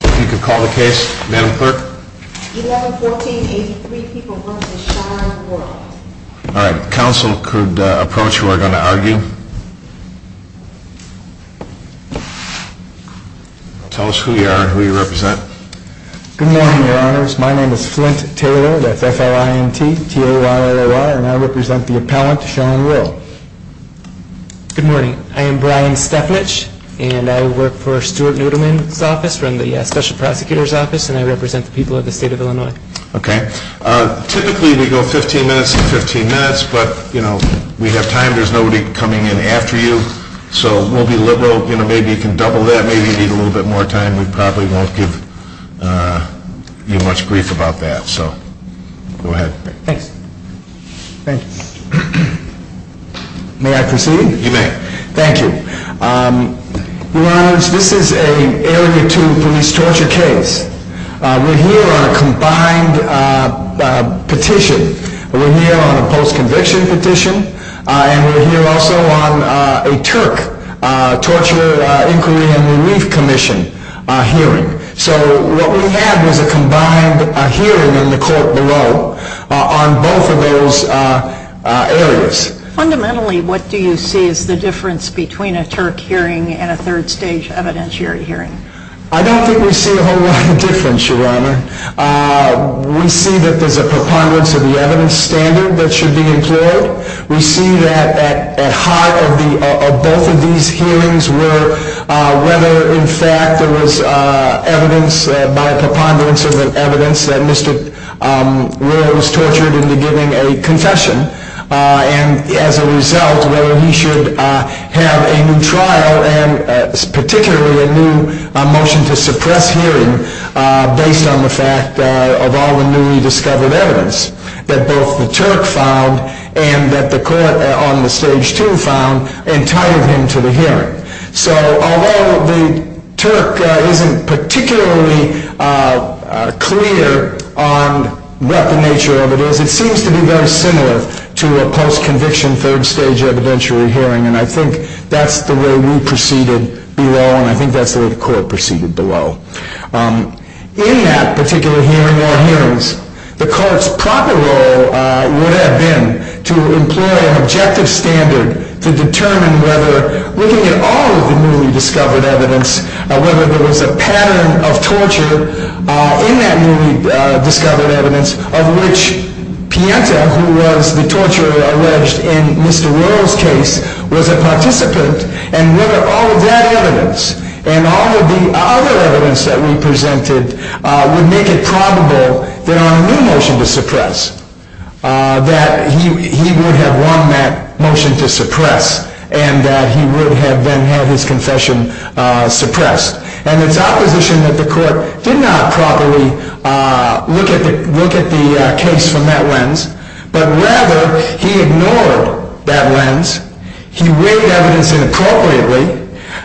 If you could call the case, Madam Clerk. 11-14-83, people want to see Sean Whirl. All right, council could approach who are going to argue. Tell us who you are and who you represent. Good morning, your honors. My name is Flint Taylor, that's F-L-I-N-T-T-A-Y-L-L-Y, and I represent the appellant, Sean Whirl. Good morning, I am Brian Stepnich, and I work for Stuart Nudelman's office, from the special prosecutor's office, and I represent the people of the state of Illinois. Okay. Typically we go 15 minutes to 15 minutes, but, you know, we have time, there's nobody coming in after you, so we'll be liberal. You know, maybe you can double that, maybe you need a little bit more time, we probably won't give you much grief about that, so go ahead. Thanks. May I proceed? You may. Thank you. Your honors, this is an area two police torture case. We're here on a combined petition. We're here on a post-conviction petition, and we're here also on a Turk torture inquiry and relief commission hearing. So what we have is a combined hearing in the court below on both of those areas. Fundamentally, what do you see as the difference between a Turk hearing and a third stage evidentiary hearing? I don't think we see a whole lot of difference, your honor. We see that there's a preponderance of the evidence standard that should be employed. We see that at heart of both of these hearings were whether, in fact, there was evidence, by preponderance of the evidence, that Mr. Royal was tortured into giving a confession, and as a result, whether he should have a new trial and particularly a new motion to suppress hearing based on the fact of all the newly discovered evidence that both the Turk found and that the court on the stage two found entitled him to the hearing. So although the Turk isn't particularly clear on what the nature of it is, it seems to be very similar to a post-conviction third stage evidentiary hearing, and I think that's the way we proceeded below, and I think that's the way the court proceeded below. In that particular hearing or hearings, the court's proper role would have been to employ an objective standard to determine whether, looking at all of the newly discovered evidence, whether there was a pattern of torture in that newly discovered evidence of which Pienta, who was the torturer alleged in Mr. Royal's case, was a participant, and whether all of that evidence and all of the other evidence that we presented would make it probable that on a new motion to suppress, that he would have won that motion to suppress and that he would have then had his confession suppressed. And it's opposition that the court did not properly look at the case from that lens, but rather he ignored that lens. He weighed evidence inappropriately.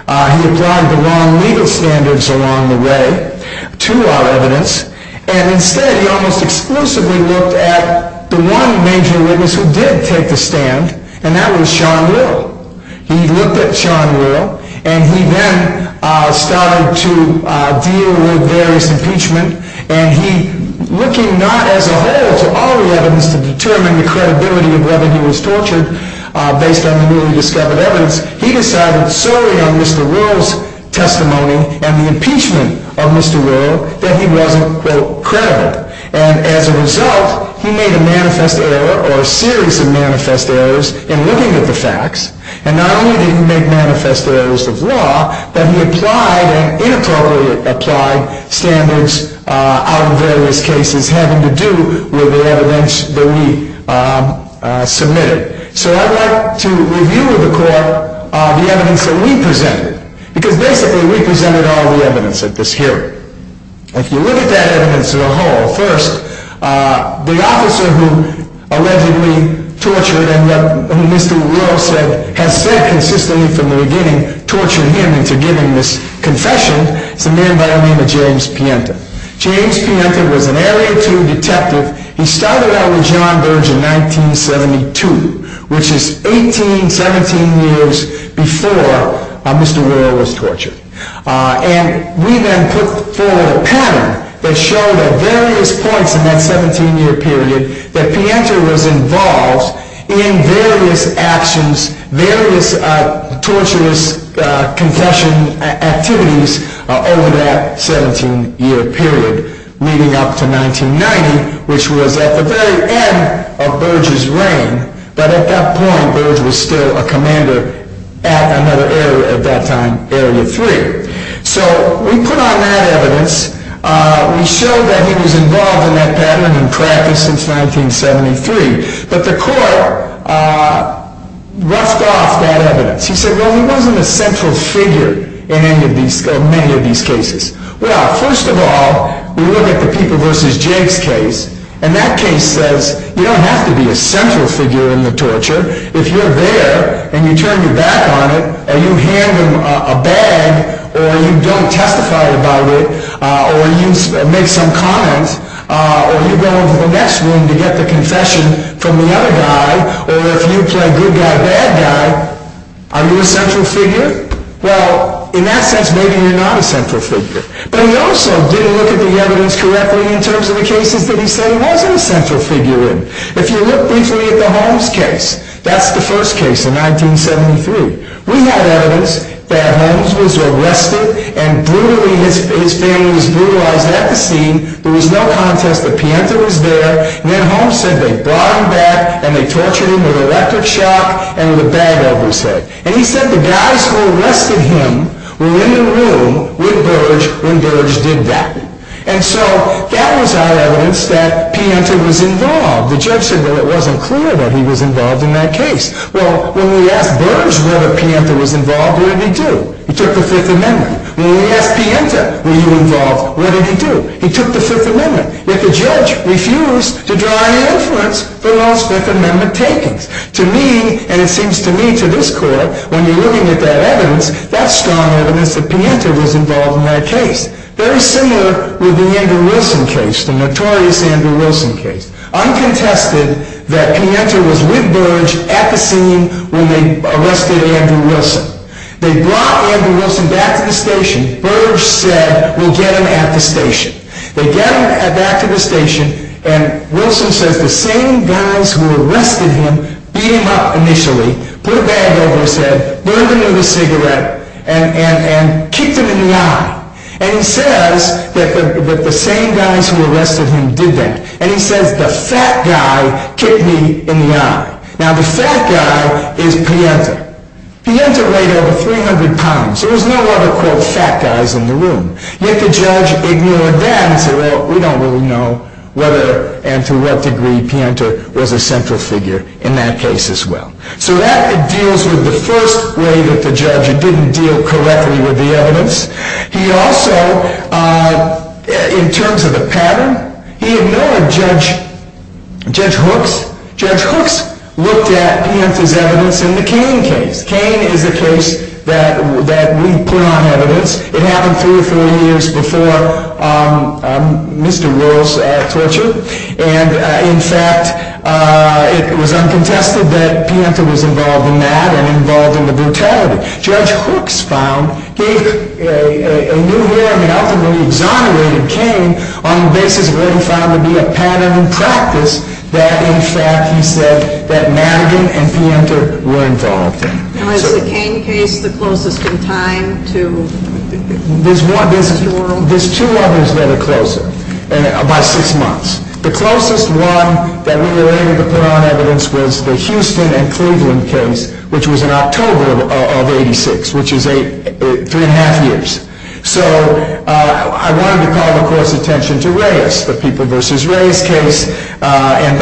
He applied the wrong legal standards along the way to our evidence, and instead he almost exclusively looked at the one major witness who did take the stand, and that was Sean Will. He looked at Sean Will, and he then started to deal with various impeachment, and he, looking not as a whole to all the evidence to determine the credibility of whether he was tortured based on the newly discovered evidence, he decided solely on Mr. Royal's testimony and the impeachment of Mr. Royal that he wasn't, quote, credible. And as a result, he made a manifest error or a series of manifest errors in looking at the facts, and not only did he make manifest errors of law, but he applied and inappropriately applied standards out of various cases having to do with the evidence that we submitted. So I'd like to review with the court the evidence that we presented, because basically we presented all the evidence at this hearing. If you look at that evidence as a whole, first, the officer who allegedly tortured and who Mr. Royal said has said consistently from the beginning, tortured him into giving this confession, is a man by the name of James Pienta. James Pienta was an LA2 detective. He started out with John Burge in 1972, which is 18, 17 years before Mr. Royal was tortured. And we then put forward a pattern that showed at various points in that 17-year period that Pienta was involved in various actions, various torturous confession activities over that 17-year period, leading up to 1990, which was at the very end of Burge's reign. But at that point, Burge was still a commander at another area at that time, Area 3. So we put on that evidence. We showed that he was involved in that pattern in practice since 1973. But the court roughed off that evidence. He said, well, he wasn't a central figure in many of these cases. Well, first of all, we look at the People v. Jakes case. And that case says you don't have to be a central figure in the torture. If you're there and you turn your back on it and you hand him a bag or you don't testify about it or you make some comments or you go into the next room to get the confession from the other guy or if you play good guy, bad guy, are you a central figure? Well, in that sense, maybe you're not a central figure. But he also didn't look at the evidence correctly in terms of the cases that he said he wasn't a central figure in. If you look briefly at the Holmes case, that's the first case in 1973. We had evidence that Holmes was arrested and his family was brutalized at the scene. There was no contest that Pienta was there. And then Holmes said they brought him back and they tortured him with electric shock and with a bag over his head. And he said the guys who arrested him were in the room with Burge when Burge did that. And so that was our evidence that Pienta was involved. The judge said, well, it wasn't clear that he was involved in that case. Well, when we asked Burge whether Pienta was involved, what did he do? He took the Fifth Amendment. When we asked Pienta, were you involved, what did he do? He took the Fifth Amendment. Yet the judge refused to draw any inference for Holmes' Fifth Amendment takings. To me, and it seems to me to this court, when you're looking at that evidence, that's strong evidence that Pienta was involved in that case. Very similar with the Andrew Wilson case, the notorious Andrew Wilson case. Uncontested that Pienta was with Burge at the scene when they arrested Andrew Wilson. They brought Andrew Wilson back to the station. Burge said, we'll get him at the station. They got him back to the station, and Wilson says the same guys who arrested him beat him up initially, put a bag over his head, burned him with a cigarette, and kicked him in the eye. And he says that the same guys who arrested him did that. And he says, the fat guy kicked me in the eye. Now, the fat guy is Pienta. Pienta weighed over 300 pounds. There was no other, quote, fat guys in the room. Yet the judge ignored that and said, well, we don't really know whether and to what degree Pienta was a central figure in that case as well. So that deals with the first way that the judge didn't deal correctly with the evidence. He also, in terms of the pattern, he ignored Judge Hooks. Judge Hooks looked at Pienta's evidence in the Cain case. Cain is the case that we put on evidence. It happened three or three years before Mr. Wills' torture. And, in fact, it was uncontested that Pienta was involved in that and involved in the brutality. Judge Hooks found, gave a new hearing that ultimately exonerated Cain on the basis of what he found to be a pattern in practice that, in fact, he said that Madigan and Pienta were involved in. Now, is the Cain case the closest in time to Mr. Wills' torture? There's two others that are closer by six months. The closest one that we were able to put on evidence was the Houston and Cleveland case, which was in October of 86, which is three and a half years. So I wanted to call, of course, attention to Reyes, the People v. Reyes case. And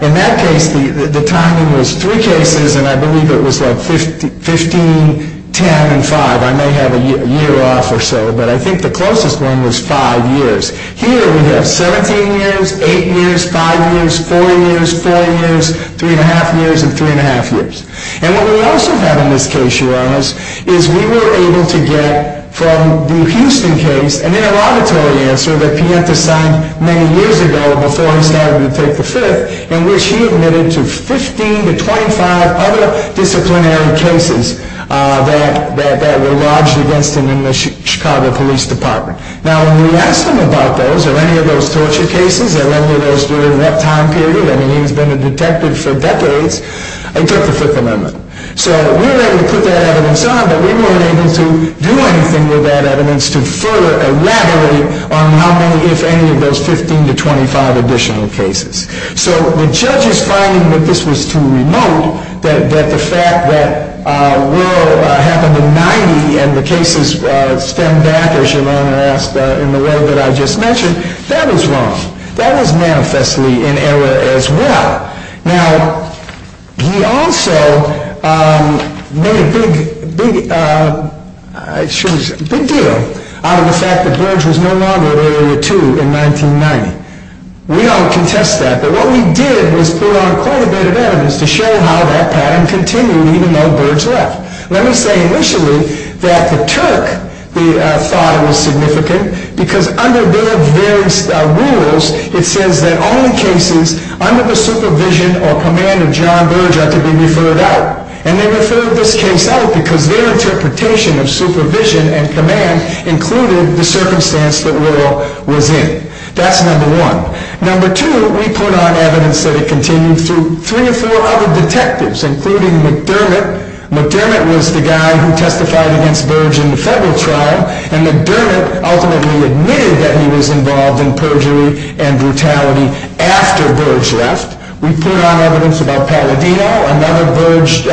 in that case, the timing was three cases, and I believe it was like 15, 10, and 5. I may have a year off or so, but I think the closest one was five years. Here we have 17 years, 8 years, 5 years, 4 years, 4 years, 3 and a half years, and 3 and a half years. And what we also have in this case, Your Honors, is we were able to get from the Houston case an interrogatory answer that Pienta signed many years ago before he started to take the Fifth, in which he admitted to 15 to 25 other disciplinary cases that were lodged against him in the Chicago Police Department. Now, when we asked him about those or any of those torture cases or any of those during that time period, I mean, he's been a detective for decades, he took the Fifth Amendment. So we were able to put that evidence on, but we weren't able to do anything with that evidence to further elaborate on how many, if any, of those 15 to 25 additional cases. So the judge's finding that this was too remote, that the fact that Wuerl happened in 90 and the cases stemmed back, as your Honor asked, in the way that I just mentioned, that is wrong. That is manifestly in error as well. Now, he also made a big deal out of the fact that Burge was no longer at Area 2 in 1990. We don't contest that, but what we did was put on quite a bit of evidence to show how that pattern continued even though Burge left. Let me say initially that the Turk thought it was significant because under their various rules, it says that only cases under the supervision or command of John Burge are to be referred out. And they referred this case out because their interpretation of supervision and command included the circumstance that Wuerl was in. That's number one. Number two, we put on evidence that it continued through three or four other detectives, including McDermott. McDermott was the guy who testified against Burge in the federal trial, and McDermott ultimately admitted that he was involved in perjury and brutality after Burge left. We put on evidence about Palladino, another Burge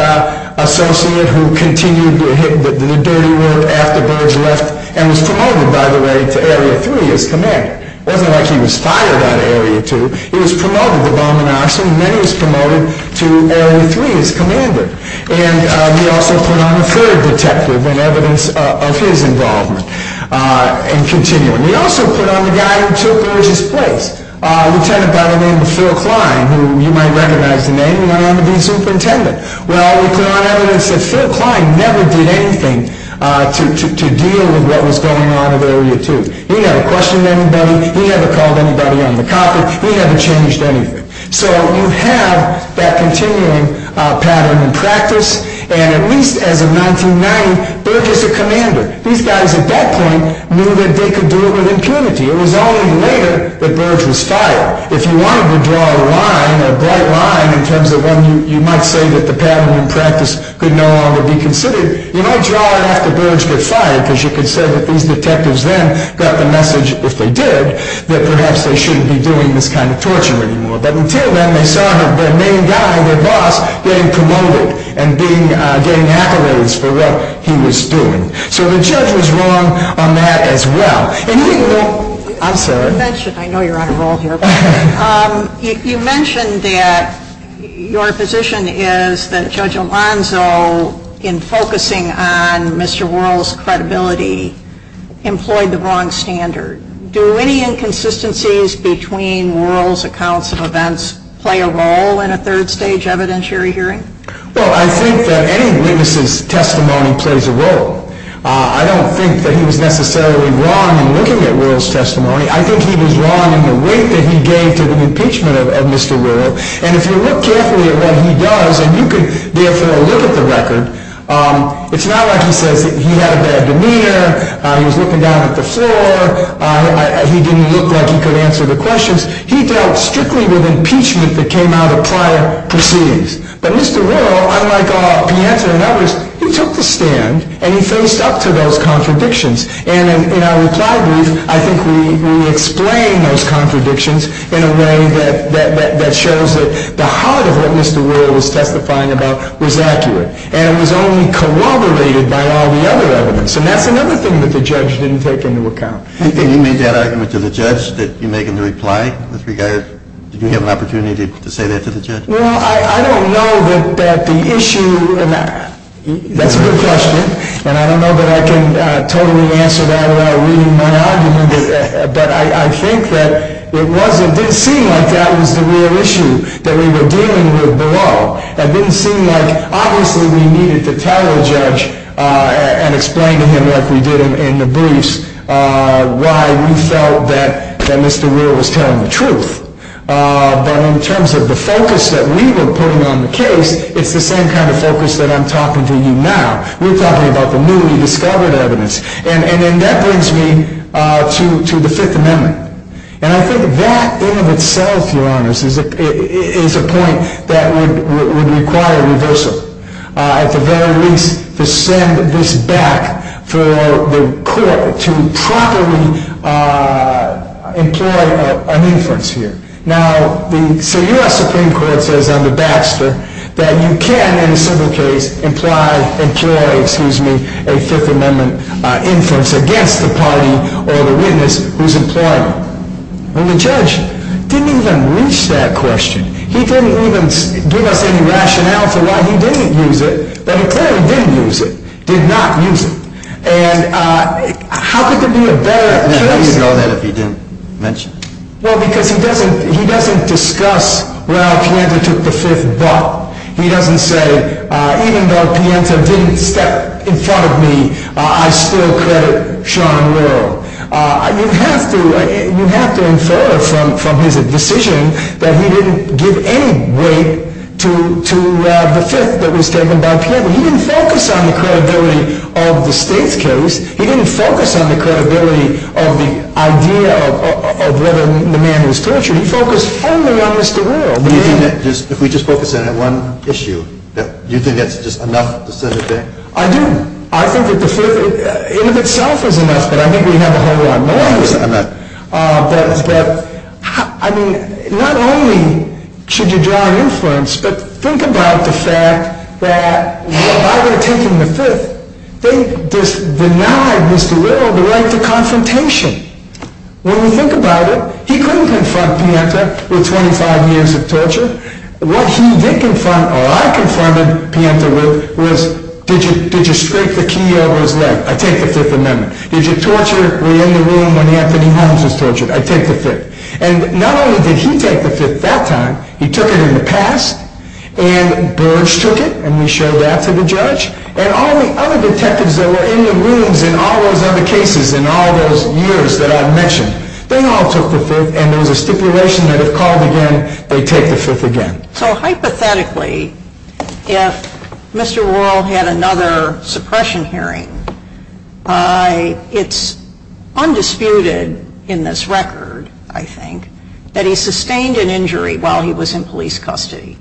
associate who continued to hit the dirty work after Burge left and was promoted, by the way, to Area 3 as commander. It wasn't like he was fired out of Area 2. He was promoted to bomb and arson, and then he was promoted to Area 3 as commander. And we also put on a third detective in evidence of his involvement and continuing. We also put on the guy who took Burge's place. A lieutenant by the name of Phil Klein, who you might recognize the name, went on to be superintendent. Well, we put on evidence that Phil Klein never did anything to deal with what was going on at Area 2. He never questioned anybody. He never called anybody on the copy. He never changed anything. So you have that continuing pattern in practice. And at least as of 1990, Burge is a commander. These guys at that point knew that they could do it with impunity. It was only later that Burge was fired. If you wanted to draw a line, a bright line in terms of when you might say that the pattern in practice could no longer be considered, you might draw it after Burge got fired because you could say that these detectives then got the message, if they did, that perhaps they shouldn't be doing this kind of torture anymore. But until then, they saw the main guy, their boss, getting promoted and getting accolades for what he was doing. So the judge was wrong on that as well. I'm sorry. I know you're on a roll here. You mentioned that your position is that Judge Alonzo, in focusing on Mr. Wuerl's credibility, employed the wrong standard. Do any inconsistencies between Wuerl's accounts of events play a role in a third stage evidentiary hearing? Well, I think that any witness's testimony plays a role. I don't think that he was necessarily wrong in looking at Wuerl's testimony. I think he was wrong in the weight that he gave to the impeachment of Mr. Wuerl. And if you look carefully at what he does, and you could therefore look at the record, it's not like he says he had a bad demeanor, he was looking down at the floor, he didn't look like he could answer the questions. He dealt strictly with impeachment that came out of prior proceedings. But Mr. Wuerl, unlike Pianta and others, he took the stand and he faced up to those contradictions. And in our reply brief, I think we explain those contradictions in a way that shows that the heart of what Mr. Wuerl was testifying about was accurate. And it was only corroborated by all the other evidence. And that's another thing that the judge didn't take into account. And you made that argument to the judge that you make in the reply? Well, I don't know that the issue, and that's a good question. And I don't know that I can totally answer that without reading my argument. But I think that it didn't seem like that was the real issue that we were dealing with below. It didn't seem like, obviously, we needed to tell the judge and explain to him, like we did in the briefs, why we felt that Mr. Wuerl was telling the truth. But in terms of the focus that we were putting on the case, it's the same kind of focus that I'm talking to you now. We're talking about the newly discovered evidence. And that brings me to the Fifth Amendment. And I think that in and of itself, Your Honors, is a point that would require reversal. At the very least, to send this back for the court to properly employ an inference here. Now, the U.S. Supreme Court says under Baxter that you can, in a civil case, employ a Fifth Amendment inference against the party or the witness who's employing it. And the judge didn't even reach that question. He didn't even give us any rationale for why he didn't use it. But he clearly didn't use it, did not use it. And how could there be a better choice? How do you know that if he didn't mention it? Well, because he doesn't discuss, well, Pianta took the Fifth, but he doesn't say, even though Pianta didn't step in front of me, I still credit Sean Wuerl. You have to infer from his decision that he didn't give any weight to the Fifth that was taken by Pianta. He didn't focus on the credibility of the state's case. He didn't focus on the credibility of the idea of whether the man was tortured. He focused only on Mr. Wuerl. If we just focus in on one issue, do you think that's just enough to send it back? I do. I think that the Fifth in and of itself is enough, but I think we have a whole lot more. I'm not. But, I mean, not only should you draw influence, but think about the fact that if I were to take him to Fifth, they just denied Mr. Wuerl the right to confrontation. When you think about it, he couldn't confront Pianta with 25 years of torture. What he did confront, or I confronted Pianta with, was did you scrape the key over his leg? I take the Fifth Amendment. Did you torture? Were you in the room when Anthony Holmes was tortured? I take the Fifth. And not only did he take the Fifth that time, he took it in the past, and Burge took it, and we showed that to the judge, and all the other detectives that were in the rooms in all those other cases in all those years that I've mentioned, they all took the Fifth, and there was a stipulation that if called again, they'd take the Fifth again. So hypothetically, if Mr. Wuerl had another suppression hearing, it's undisputed in this record, I think, that he sustained an injury while he was in police custody.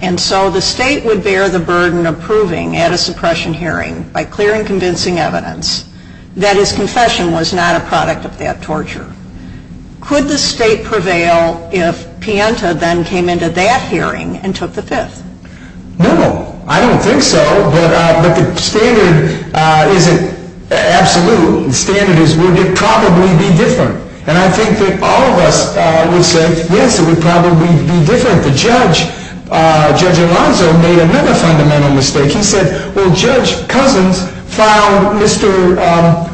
And so the state would bear the burden of proving at a suppression hearing, by clear and convincing evidence, that his confession was not a product of that torture. Could the state prevail if Pianta then came into that hearing and took the Fifth? No, I don't think so, but the standard isn't absolute. The standard is, would it probably be different? And I think that all of us would say, yes, it would probably be different. The judge, Judge Alonzo, made another fundamental mistake. He said, well, Judge Cousins found Mr.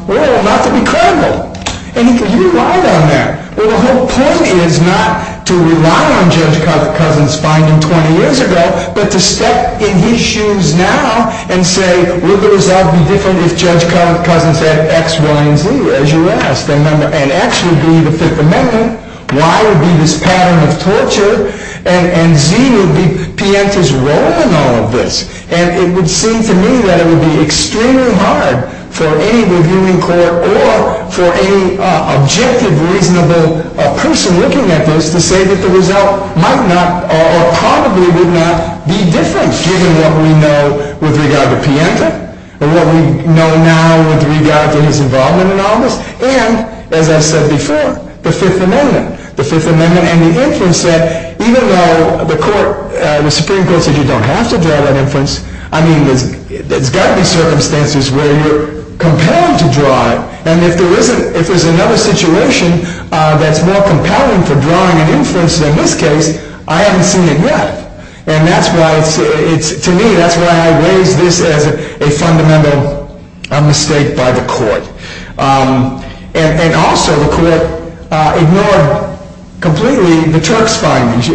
Wuerl not to be credible. And he relied on that. Well, the whole point is not to rely on Judge Cousins finding him 20 years ago, but to step in his shoes now and say, would the result be different if Judge Cousins had X, Y, and Z, as you asked? And X would be the Fifth Amendment, Y would be this pattern of torture, and Z would be Pianta's role in all of this. And it would seem to me that it would be extremely hard for any reviewing court or for any objective, reasonable person looking at this to say that the result might not or probably would not be different, given what we know with regard to Pianta and what we know now with regard to his involvement in all of this, and, as I said before, the Fifth Amendment. The Fifth Amendment and the inference that even though the Supreme Court said you don't have to draw that inference, I mean, there's got to be circumstances where you're compelled to draw it. And if there's another situation that's more compelling for drawing an inference than this case, I haven't seen it yet. And to me, that's why I raise this as a fundamental mistake by the court. And also, the court ignored completely the Turk's findings.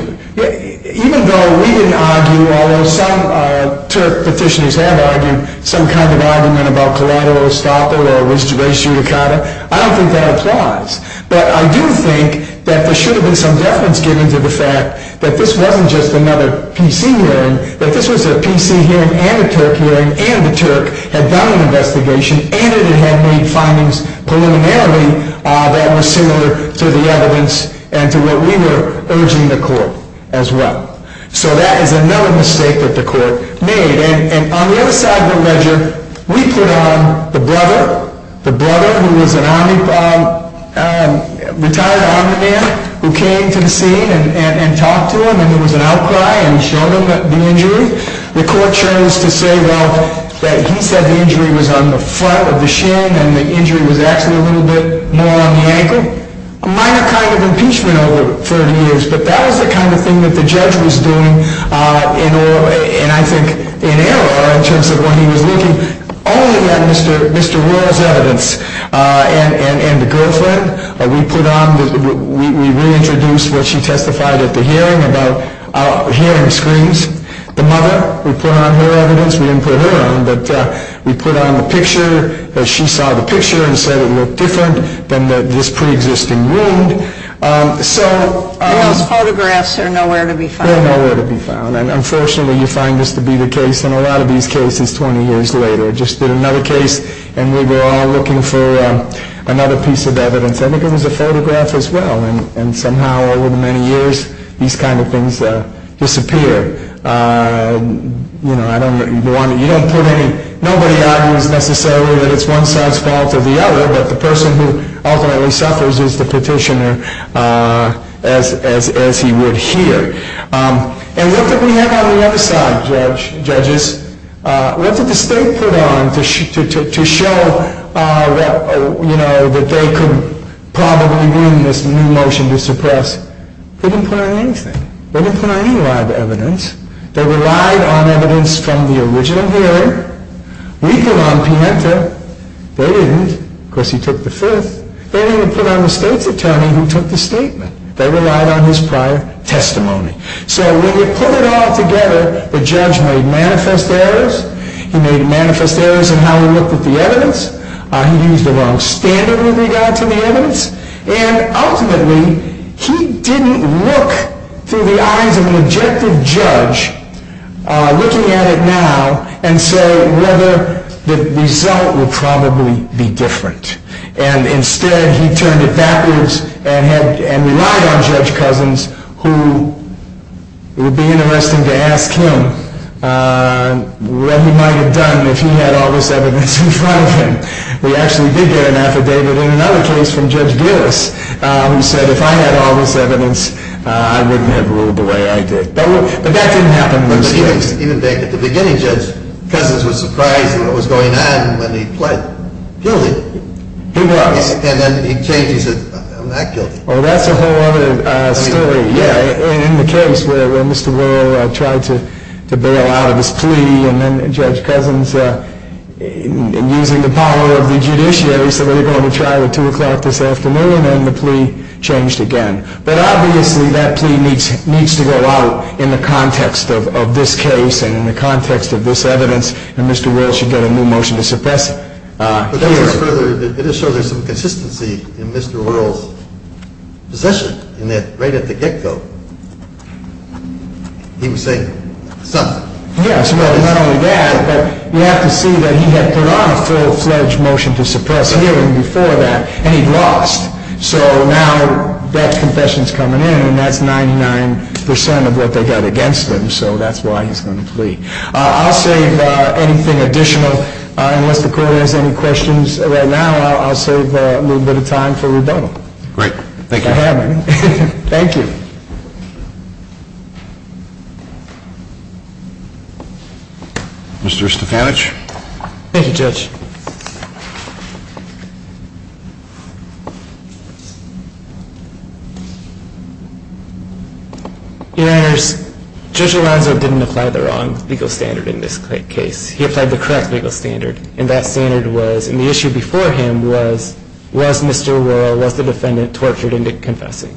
Even though we didn't argue, although some Turk petitioners have argued some kind of argument about collateral estoppel or res judicata, I don't think that applies. But I do think that there should have been some deference given to the fact that this wasn't just another PC hearing, but this was a PC hearing and a Turk hearing, and the Turk had done an investigation, and it had made findings preliminarily that were similar to the evidence and to what we were urging the court as well. So that is another mistake that the court made. And on the other side of the ledger, we put on the brother, the brother who was a retired army man, who came to the scene and talked to him, and there was an outcry and showed him the injury. The court chose to say, well, that he said the injury was on the front of the shin, and the injury was actually a little bit more on the ankle. A minor kind of impeachment over 30 years, but that was the kind of thing that the judge was doing, and I think in error in terms of when he was looking only at Mr. Wuerl's evidence. And the girlfriend, we put on, we reintroduced what she testified at the hearing about hearing screams. The mother, we put on her evidence. We didn't put her on, but we put on the picture. She saw the picture and said it looked different than this preexisting wound. Those photographs are nowhere to be found. They're nowhere to be found, and unfortunately you find this to be the case in a lot of these cases 20 years later. We just did another case, and we were all looking for another piece of evidence. I think it was a photograph as well, and somehow over the many years these kind of things disappeared. You don't put any, nobody argues necessarily that it's one side's fault or the other, but the person who ultimately suffers is the petitioner as he would hear. And what did we have on the other side, judges? What did the state put on to show that they could probably win this new motion to suppress? They didn't put on anything. They didn't put on any live evidence. They relied on evidence from the original hearing. We put on Pienta. They didn't. Of course, he took the fifth. They didn't even put on the state's attorney who took the statement. They relied on his prior testimony. So when we put it all together, the judge made manifest errors. He made manifest errors in how he looked at the evidence. He used the wrong standard with regard to the evidence, and ultimately he didn't look through the eyes of an objective judge looking at it now and say whether the result would probably be different. And instead, he turned it backwards and relied on Judge Cousins, who it would be interesting to ask him what he might have done if he had all this evidence in front of him. We actually did get an affidavit in another case from Judge Gillis who said, if I had all this evidence, I wouldn't have ruled the way I did. But that didn't happen in those cases. Even back at the beginning, Judge Cousins was surprised at what was going on when he pled guilty. He was. And then he changed. He said, I'm not guilty. Well, that's a whole other story. Yeah, in the case where Mr. Wuerl tried to bail out of his plea, and then Judge Cousins, using the power of the judiciary, said, well, you're going to trial at 2 o'clock this afternoon, and the plea changed again. But obviously, that plea needs to go out in the context of this case and in the context of this evidence, and Mr. Wuerl should get a new motion to suppress hearing. But that goes further. It does show there's some consistency in Mr. Wuerl's position in that right at the get-go, he was saying something. Yes, well, not only that, but you have to see that he had put on a full-fledged motion to suppress hearing before that, and he'd lost. So now that confession is coming in, and that's 99% of what they got against him, so that's why he's going to plea. I'll save anything additional. Unless the court has any questions right now, I'll save a little bit of time for rebuttal. Great. Thank you. Thank you. Mr. Stefanich. Thank you, Judge. Your Honors, Judge Alonzo didn't apply the wrong legal standard in this case. He applied the correct legal standard, and that standard was, and the issue before him was, was Mr. Wuerl, was the defendant tortured into confessing?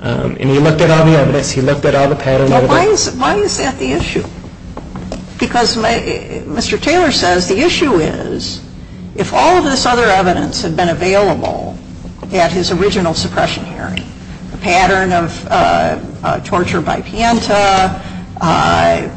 And he looked at all the evidence, he looked at all the patterns. Why is that the issue? Because Mr. Taylor says the issue is, if all of this other evidence had been available at his original suppression hearing, the pattern of torture by Pienta,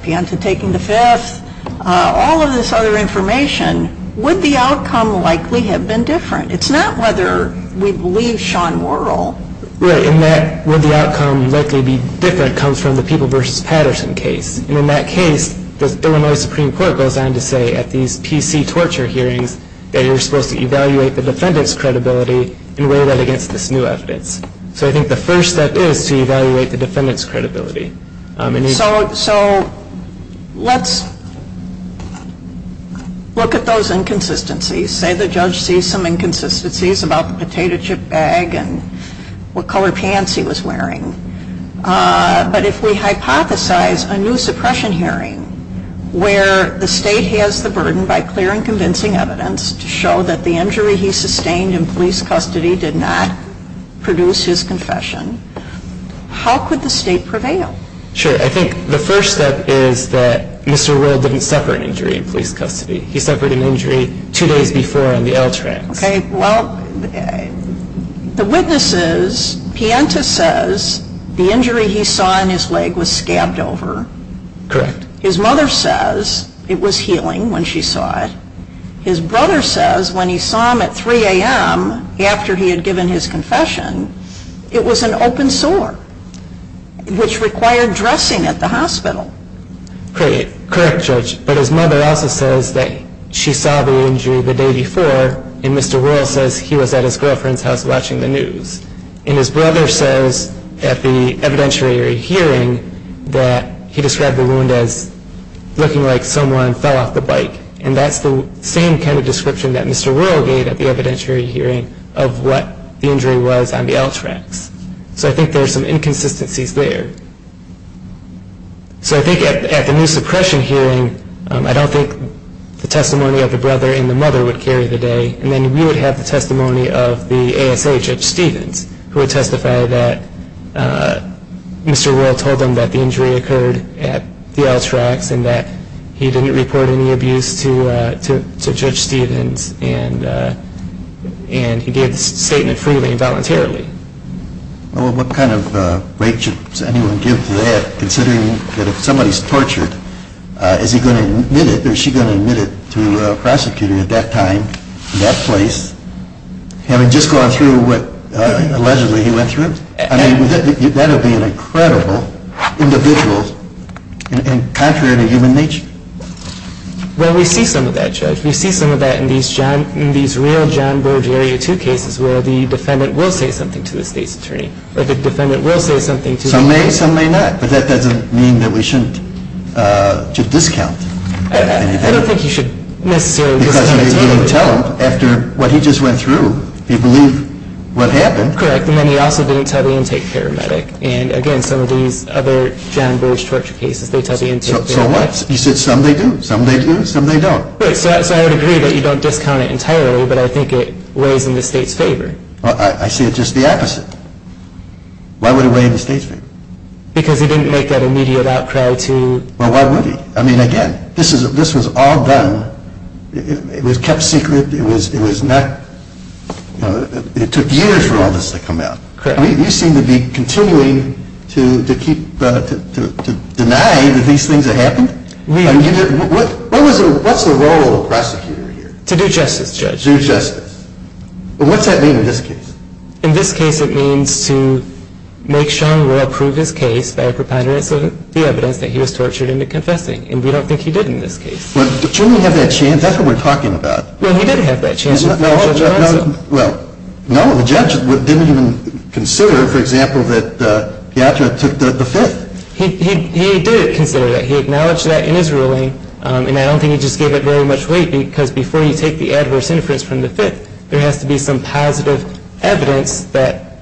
Pienta taking the fifth, all of this other information, would the outcome likely have been different? It's not whether we believe Sean Wuerl. Right, and that would the outcome likely be different comes from the People v. Patterson case. And in that case, the Illinois Supreme Court goes on to say at these PC torture hearings that you're supposed to evaluate the defendant's credibility and weigh that against this new evidence. So I think the first step is to evaluate the defendant's credibility. So let's look at those inconsistencies. You say the judge sees some inconsistencies about the potato chip bag and what color pants he was wearing. But if we hypothesize a new suppression hearing where the state has the burden by clearing convincing evidence to show that the injury he sustained in police custody did not produce his confession, how could the state prevail? Sure. I think the first step is that Mr. Wuerl didn't suffer an injury in police custody. He suffered an injury two days before on the L tracks. Okay, well, the witnesses, Pienta says the injury he saw in his leg was scabbed over. Correct. His mother says it was healing when she saw it. His brother says when he saw him at 3 a.m. after he had given his confession, it was an open sore, which required dressing at the hospital. Correct, Judge. But his mother also says that she saw the injury the day before, and Mr. Wuerl says he was at his girlfriend's house watching the news. And his brother says at the evidentiary hearing that he described the wound as looking like someone fell off the bike. And that's the same kind of description that Mr. Wuerl gave at the evidentiary hearing of what the injury was on the L tracks. So I think there are some inconsistencies there. So I think at the new suppression hearing, I don't think the testimony of the brother and the mother would carry the day. And then we would have the testimony of the ASA, Judge Stevens, who would testify that Mr. Wuerl told them that the injury occurred at the L tracks and that he didn't report any abuse to Judge Stevens and he gave the statement freely and voluntarily. Well, what kind of rate should anyone give to that, considering that if somebody is tortured, is he going to admit it or is she going to admit it to a prosecutor at that time, that place, having just gone through what allegedly he went through? I mean, that would be an incredible individual and contrary to human nature. Well, we see some of that, Judge. We see some of that in these real John Burge Area 2 cases where the defendant will say something to the state's attorney. The defendant will say something to the attorney. Some may, some may not. But that doesn't mean that we shouldn't discount. I don't think you should necessarily discount. Because you didn't tell him. After what he just went through, he believed what happened. Correct. And then he also didn't tell the intake paramedic. And, again, some of these other John Burge torture cases, they tell the intake paramedic. So what? You said some they do, some they do, some they don't. Right. So I would agree that you don't discount it entirely, but I think it weighs in the state's favor. I see it just the opposite. Why would it weigh in the state's favor? Because he didn't make that immediate outcry to... Well, why would he? I mean, again, this was all done, it was kept secret, it was not... It took years for all this to come out. Correct. You seem to be continuing to deny that these things have happened? We are. What's the role of the prosecutor here? To do justice, Judge. Do justice. Well, what's that mean in this case? In this case, it means to make Sean Royal prove his case by a preponderance of the evidence that he was tortured into confessing. And we don't think he did in this case. But shouldn't he have that chance? That's what we're talking about. Well, he did have that chance. Well, no, the judge didn't even consider, for example, that Piatra took the Fifth. He did consider that. He acknowledged that in his ruling. And I don't think he just gave it very much weight because before you take the adverse inference from the Fifth, there has to be some positive evidence that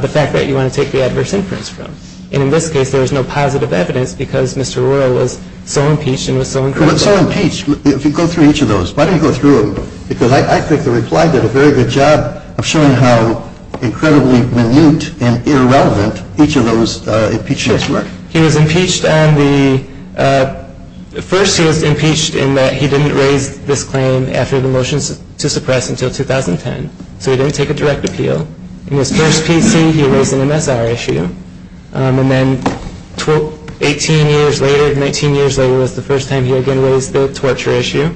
the fact that you want to take the adverse inference from. And in this case, there was no positive evidence because Mr. Royal was so impeached and was so incriminated. So impeached. If you go through each of those, why don't you go through them? Because I think the reply did a very good job of showing how incredibly minute and irrelevant each of those impeachments were. Sure. He was impeached on the – first, he was impeached in that he didn't raise this claim after the motions to suppress until 2010. So he didn't take a direct appeal. In his first PC, he raised an MSR issue. And then 18 years later, 19 years later was the first time he again raised the torture issue.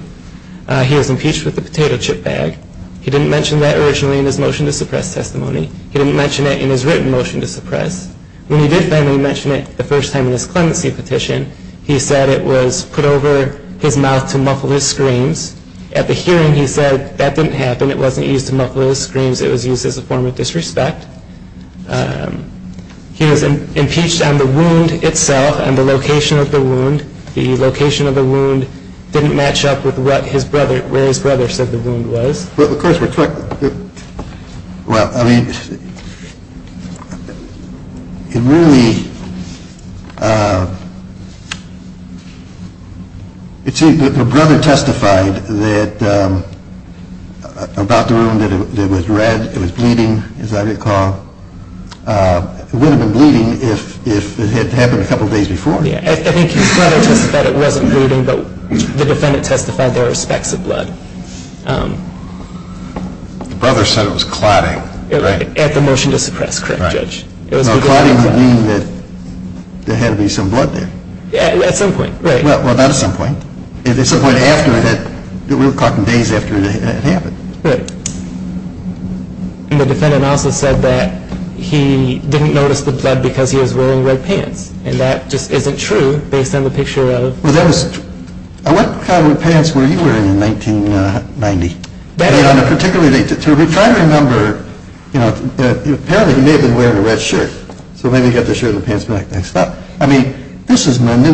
He was impeached with a potato chip bag. He didn't mention that originally in his motion to suppress testimony. He didn't mention it in his written motion to suppress. When he did finally mention it the first time in his clemency petition, he said it was put over his mouth to muffle his screams. At the hearing, he said that didn't happen. It wasn't used to muffle his screams. It was used as a form of disrespect. The location of the wound didn't match up with what his brother – where his brother said the wound was. Well, of course, we're – well, I mean, it really – it seems that the brother testified that – about the wound, that it was red, it was bleeding, as I recall. It would have been bleeding if it had happened a couple days before. Yeah, I think his brother testified it wasn't bleeding, but the defendant testified there were specks of blood. The brother said it was clotting, right? At the motion to suppress, correct, Judge? Right. No, clotting would mean that there had to be some blood there. At some point, right. Well, not at some point. At some point after it had – we were talking days after it had happened. Right. And the defendant also said that he didn't notice the blood because he was wearing red pants, and that just isn't true based on the picture of – Well, that was – what kind of pants were you wearing in 1990? Better. Particularly, to try to remember, you know, apparently he may have been wearing a red shirt, so maybe he got the shirt and pants back next time. I mean, this is –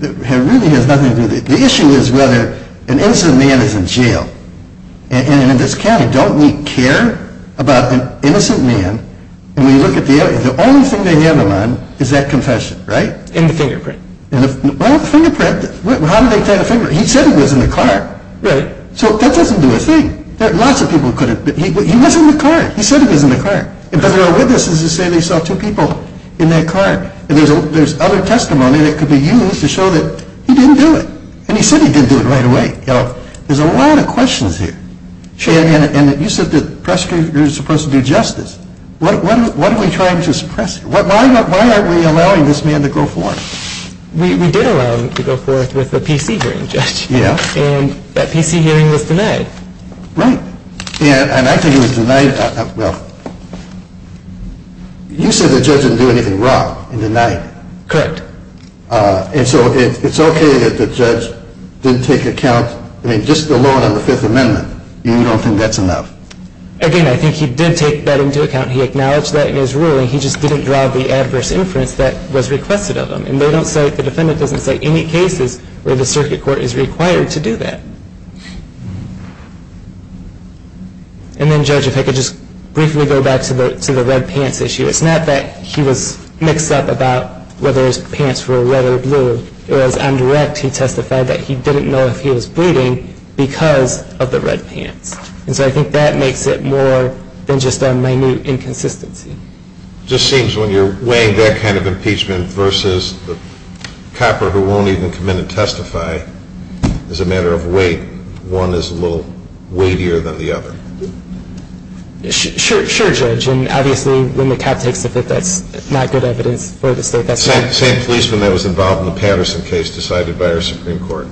it really has nothing to do – the issue is whether an innocent man is in jail, and in this county, don't we care about an innocent man? And we look at the – the only thing they have him on is that confession, right? And the fingerprint. Well, the fingerprint – how did they find the fingerprint? He said he was in the car. Right. So that doesn't do a thing. Lots of people could have – he was in the car. He said he was in the car. But there are witnesses who say they saw two people in that car. And there's other testimony that could be used to show that he didn't do it. And he said he didn't do it right away. There's a lot of questions here. And you said the prosecutor is supposed to do justice. What are we trying to suppress? Why aren't we allowing this man to go forth? We did allow him to go forth with a PC hearing, Judge. Yeah. And that PC hearing was denied. Right. And I think it was denied – well, you said the judge didn't do anything wrong in denying it. Correct. And so it's okay that the judge didn't take account – I mean, just the loan on the Fifth Amendment, you don't think that's enough? Again, I think he did take that into account. He acknowledged that in his ruling. He just didn't draw the adverse inference that was requested of him. And they don't say – the defendant doesn't say any cases where the circuit court is required to do that. And then, Judge, if I could just briefly go back to the red pants issue. It's not that he was mixed up about whether his pants were red or blue. It was indirect. He testified that he didn't know if he was bleeding because of the red pants. And so I think that makes it more than just a minute inconsistency. It just seems when you're weighing that kind of impeachment versus the copper who won't even come in and testify, as a matter of weight, one is a little weightier than the other. Sure, Judge. Well, I think that's a good question. Obviously, when the cop takes the Fifth, that's not good evidence for the state. The same policeman that was involved in the Patterson case decided by our Supreme Court.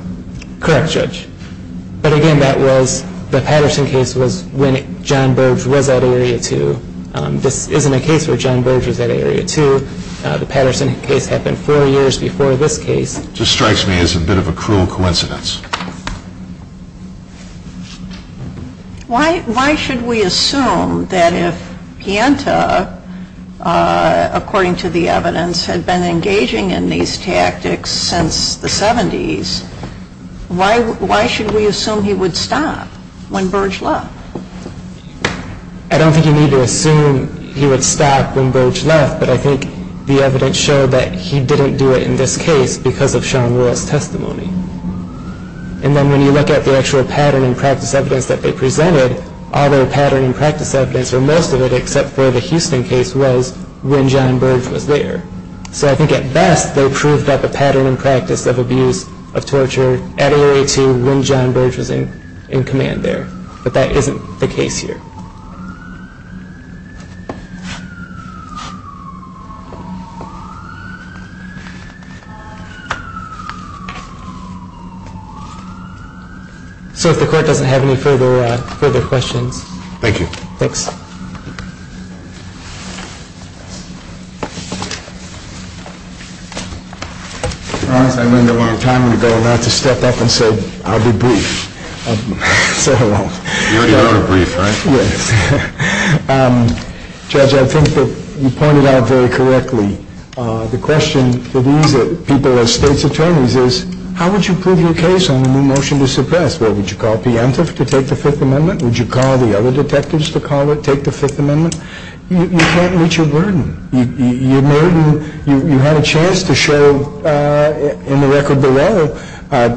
Correct, Judge. But again, that was – the Patterson case was when John Burge was at Area 2. This isn't a case where John Burge was at Area 2. The Patterson case happened four years before this case. Just strikes me as a bit of a cruel coincidence. Why should we assume that if Pianta, according to the evidence, had been engaging in these tactics since the 70s, why should we assume he would stop when Burge left? I don't think you need to assume he would stop when Burge left, but I think the evidence showed that he didn't do it in this case because of Sean Will's testimony. And then when you look at the actual pattern and practice evidence that they presented, all their pattern and practice evidence, or most of it except for the Houston case, was when John Burge was there. So I think at best, they proved that the pattern and practice of abuse, of torture, at Area 2 when John Burge was in command there. But that isn't the case here. So if the court doesn't have any further questions. Thank you. Thanks. I realize I went into a lot of time ago not to step up and say I'll be brief. Say hello. You already are brief, right? Yes. Judge, I think that you pointed out very correctly, the question for these people as state's attorneys is how would you prove your case on a new motion to suppress? Would you call P. Antiff to take the Fifth Amendment? Would you call the other detectives to take the Fifth Amendment? You can't reach a burden. You had a chance to show in the record below that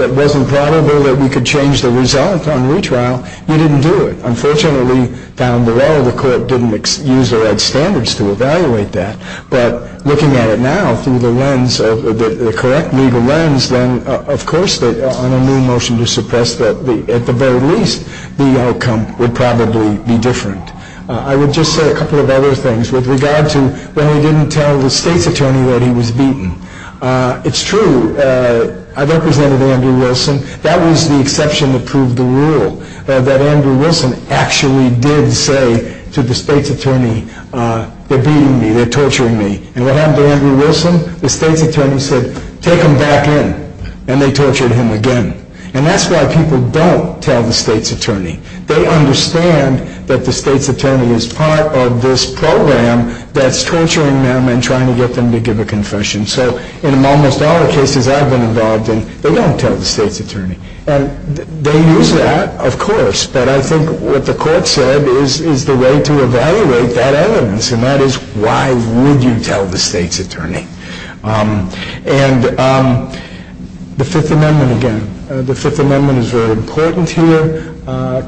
it wasn't probable that we could change the result on retrial. You didn't do it. Unfortunately, down the road, the court didn't use or add standards to evaluate that. But looking at it now through the lens, the correct legal lens, then of course on a new motion to suppress, at the very least, the outcome would probably be different. I would just say a couple of other things with regard to when we didn't tell the state's attorney that he was beaten. It's true. I represented Andrew Wilson. That was the exception that proved the rule, that Andrew Wilson actually did say to the state's attorney, they're beating me, they're torturing me. And what happened to Andrew Wilson? The state's attorney said, take him back in, and they tortured him again. And that's why people don't tell the state's attorney. They understand that the state's attorney is part of this program that's torturing them and trying to get them to give a confession. So in almost all the cases I've been involved in, they don't tell the state's attorney. And they use that, of course, but I think what the court said is the way to evaluate that evidence, and that is why would you tell the state's attorney? And the Fifth Amendment again. The Fifth Amendment is very important here.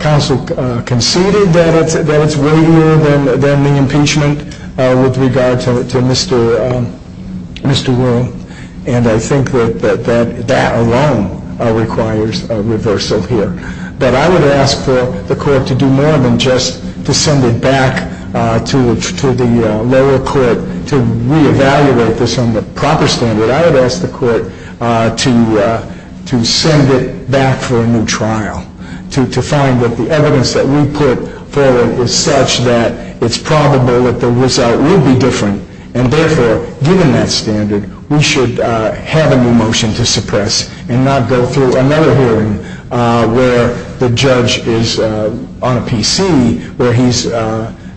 Counsel conceded that it's weightier than the impeachment with regard to Mr. Will, and I think that that alone requires a reversal here. But I would ask for the court to do more than just to send it back to the lower court to reevaluate this on the proper standard. I would ask the court to send it back for a new trial, to find that the evidence that we put forward is such that it's probable that the result will be different, and therefore, given that standard, we should have a new motion to suppress and not go through another hearing where the judge is on a PC where he's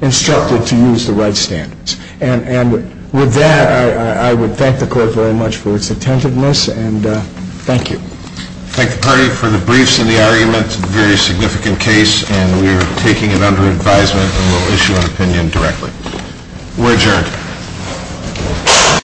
instructed to use the right standards. And with that, I would thank the court very much for its attentiveness, and thank you. I thank the party for the briefs and the arguments, a very significant case, and we are taking it under advisement and will issue an opinion directly. We're adjourned.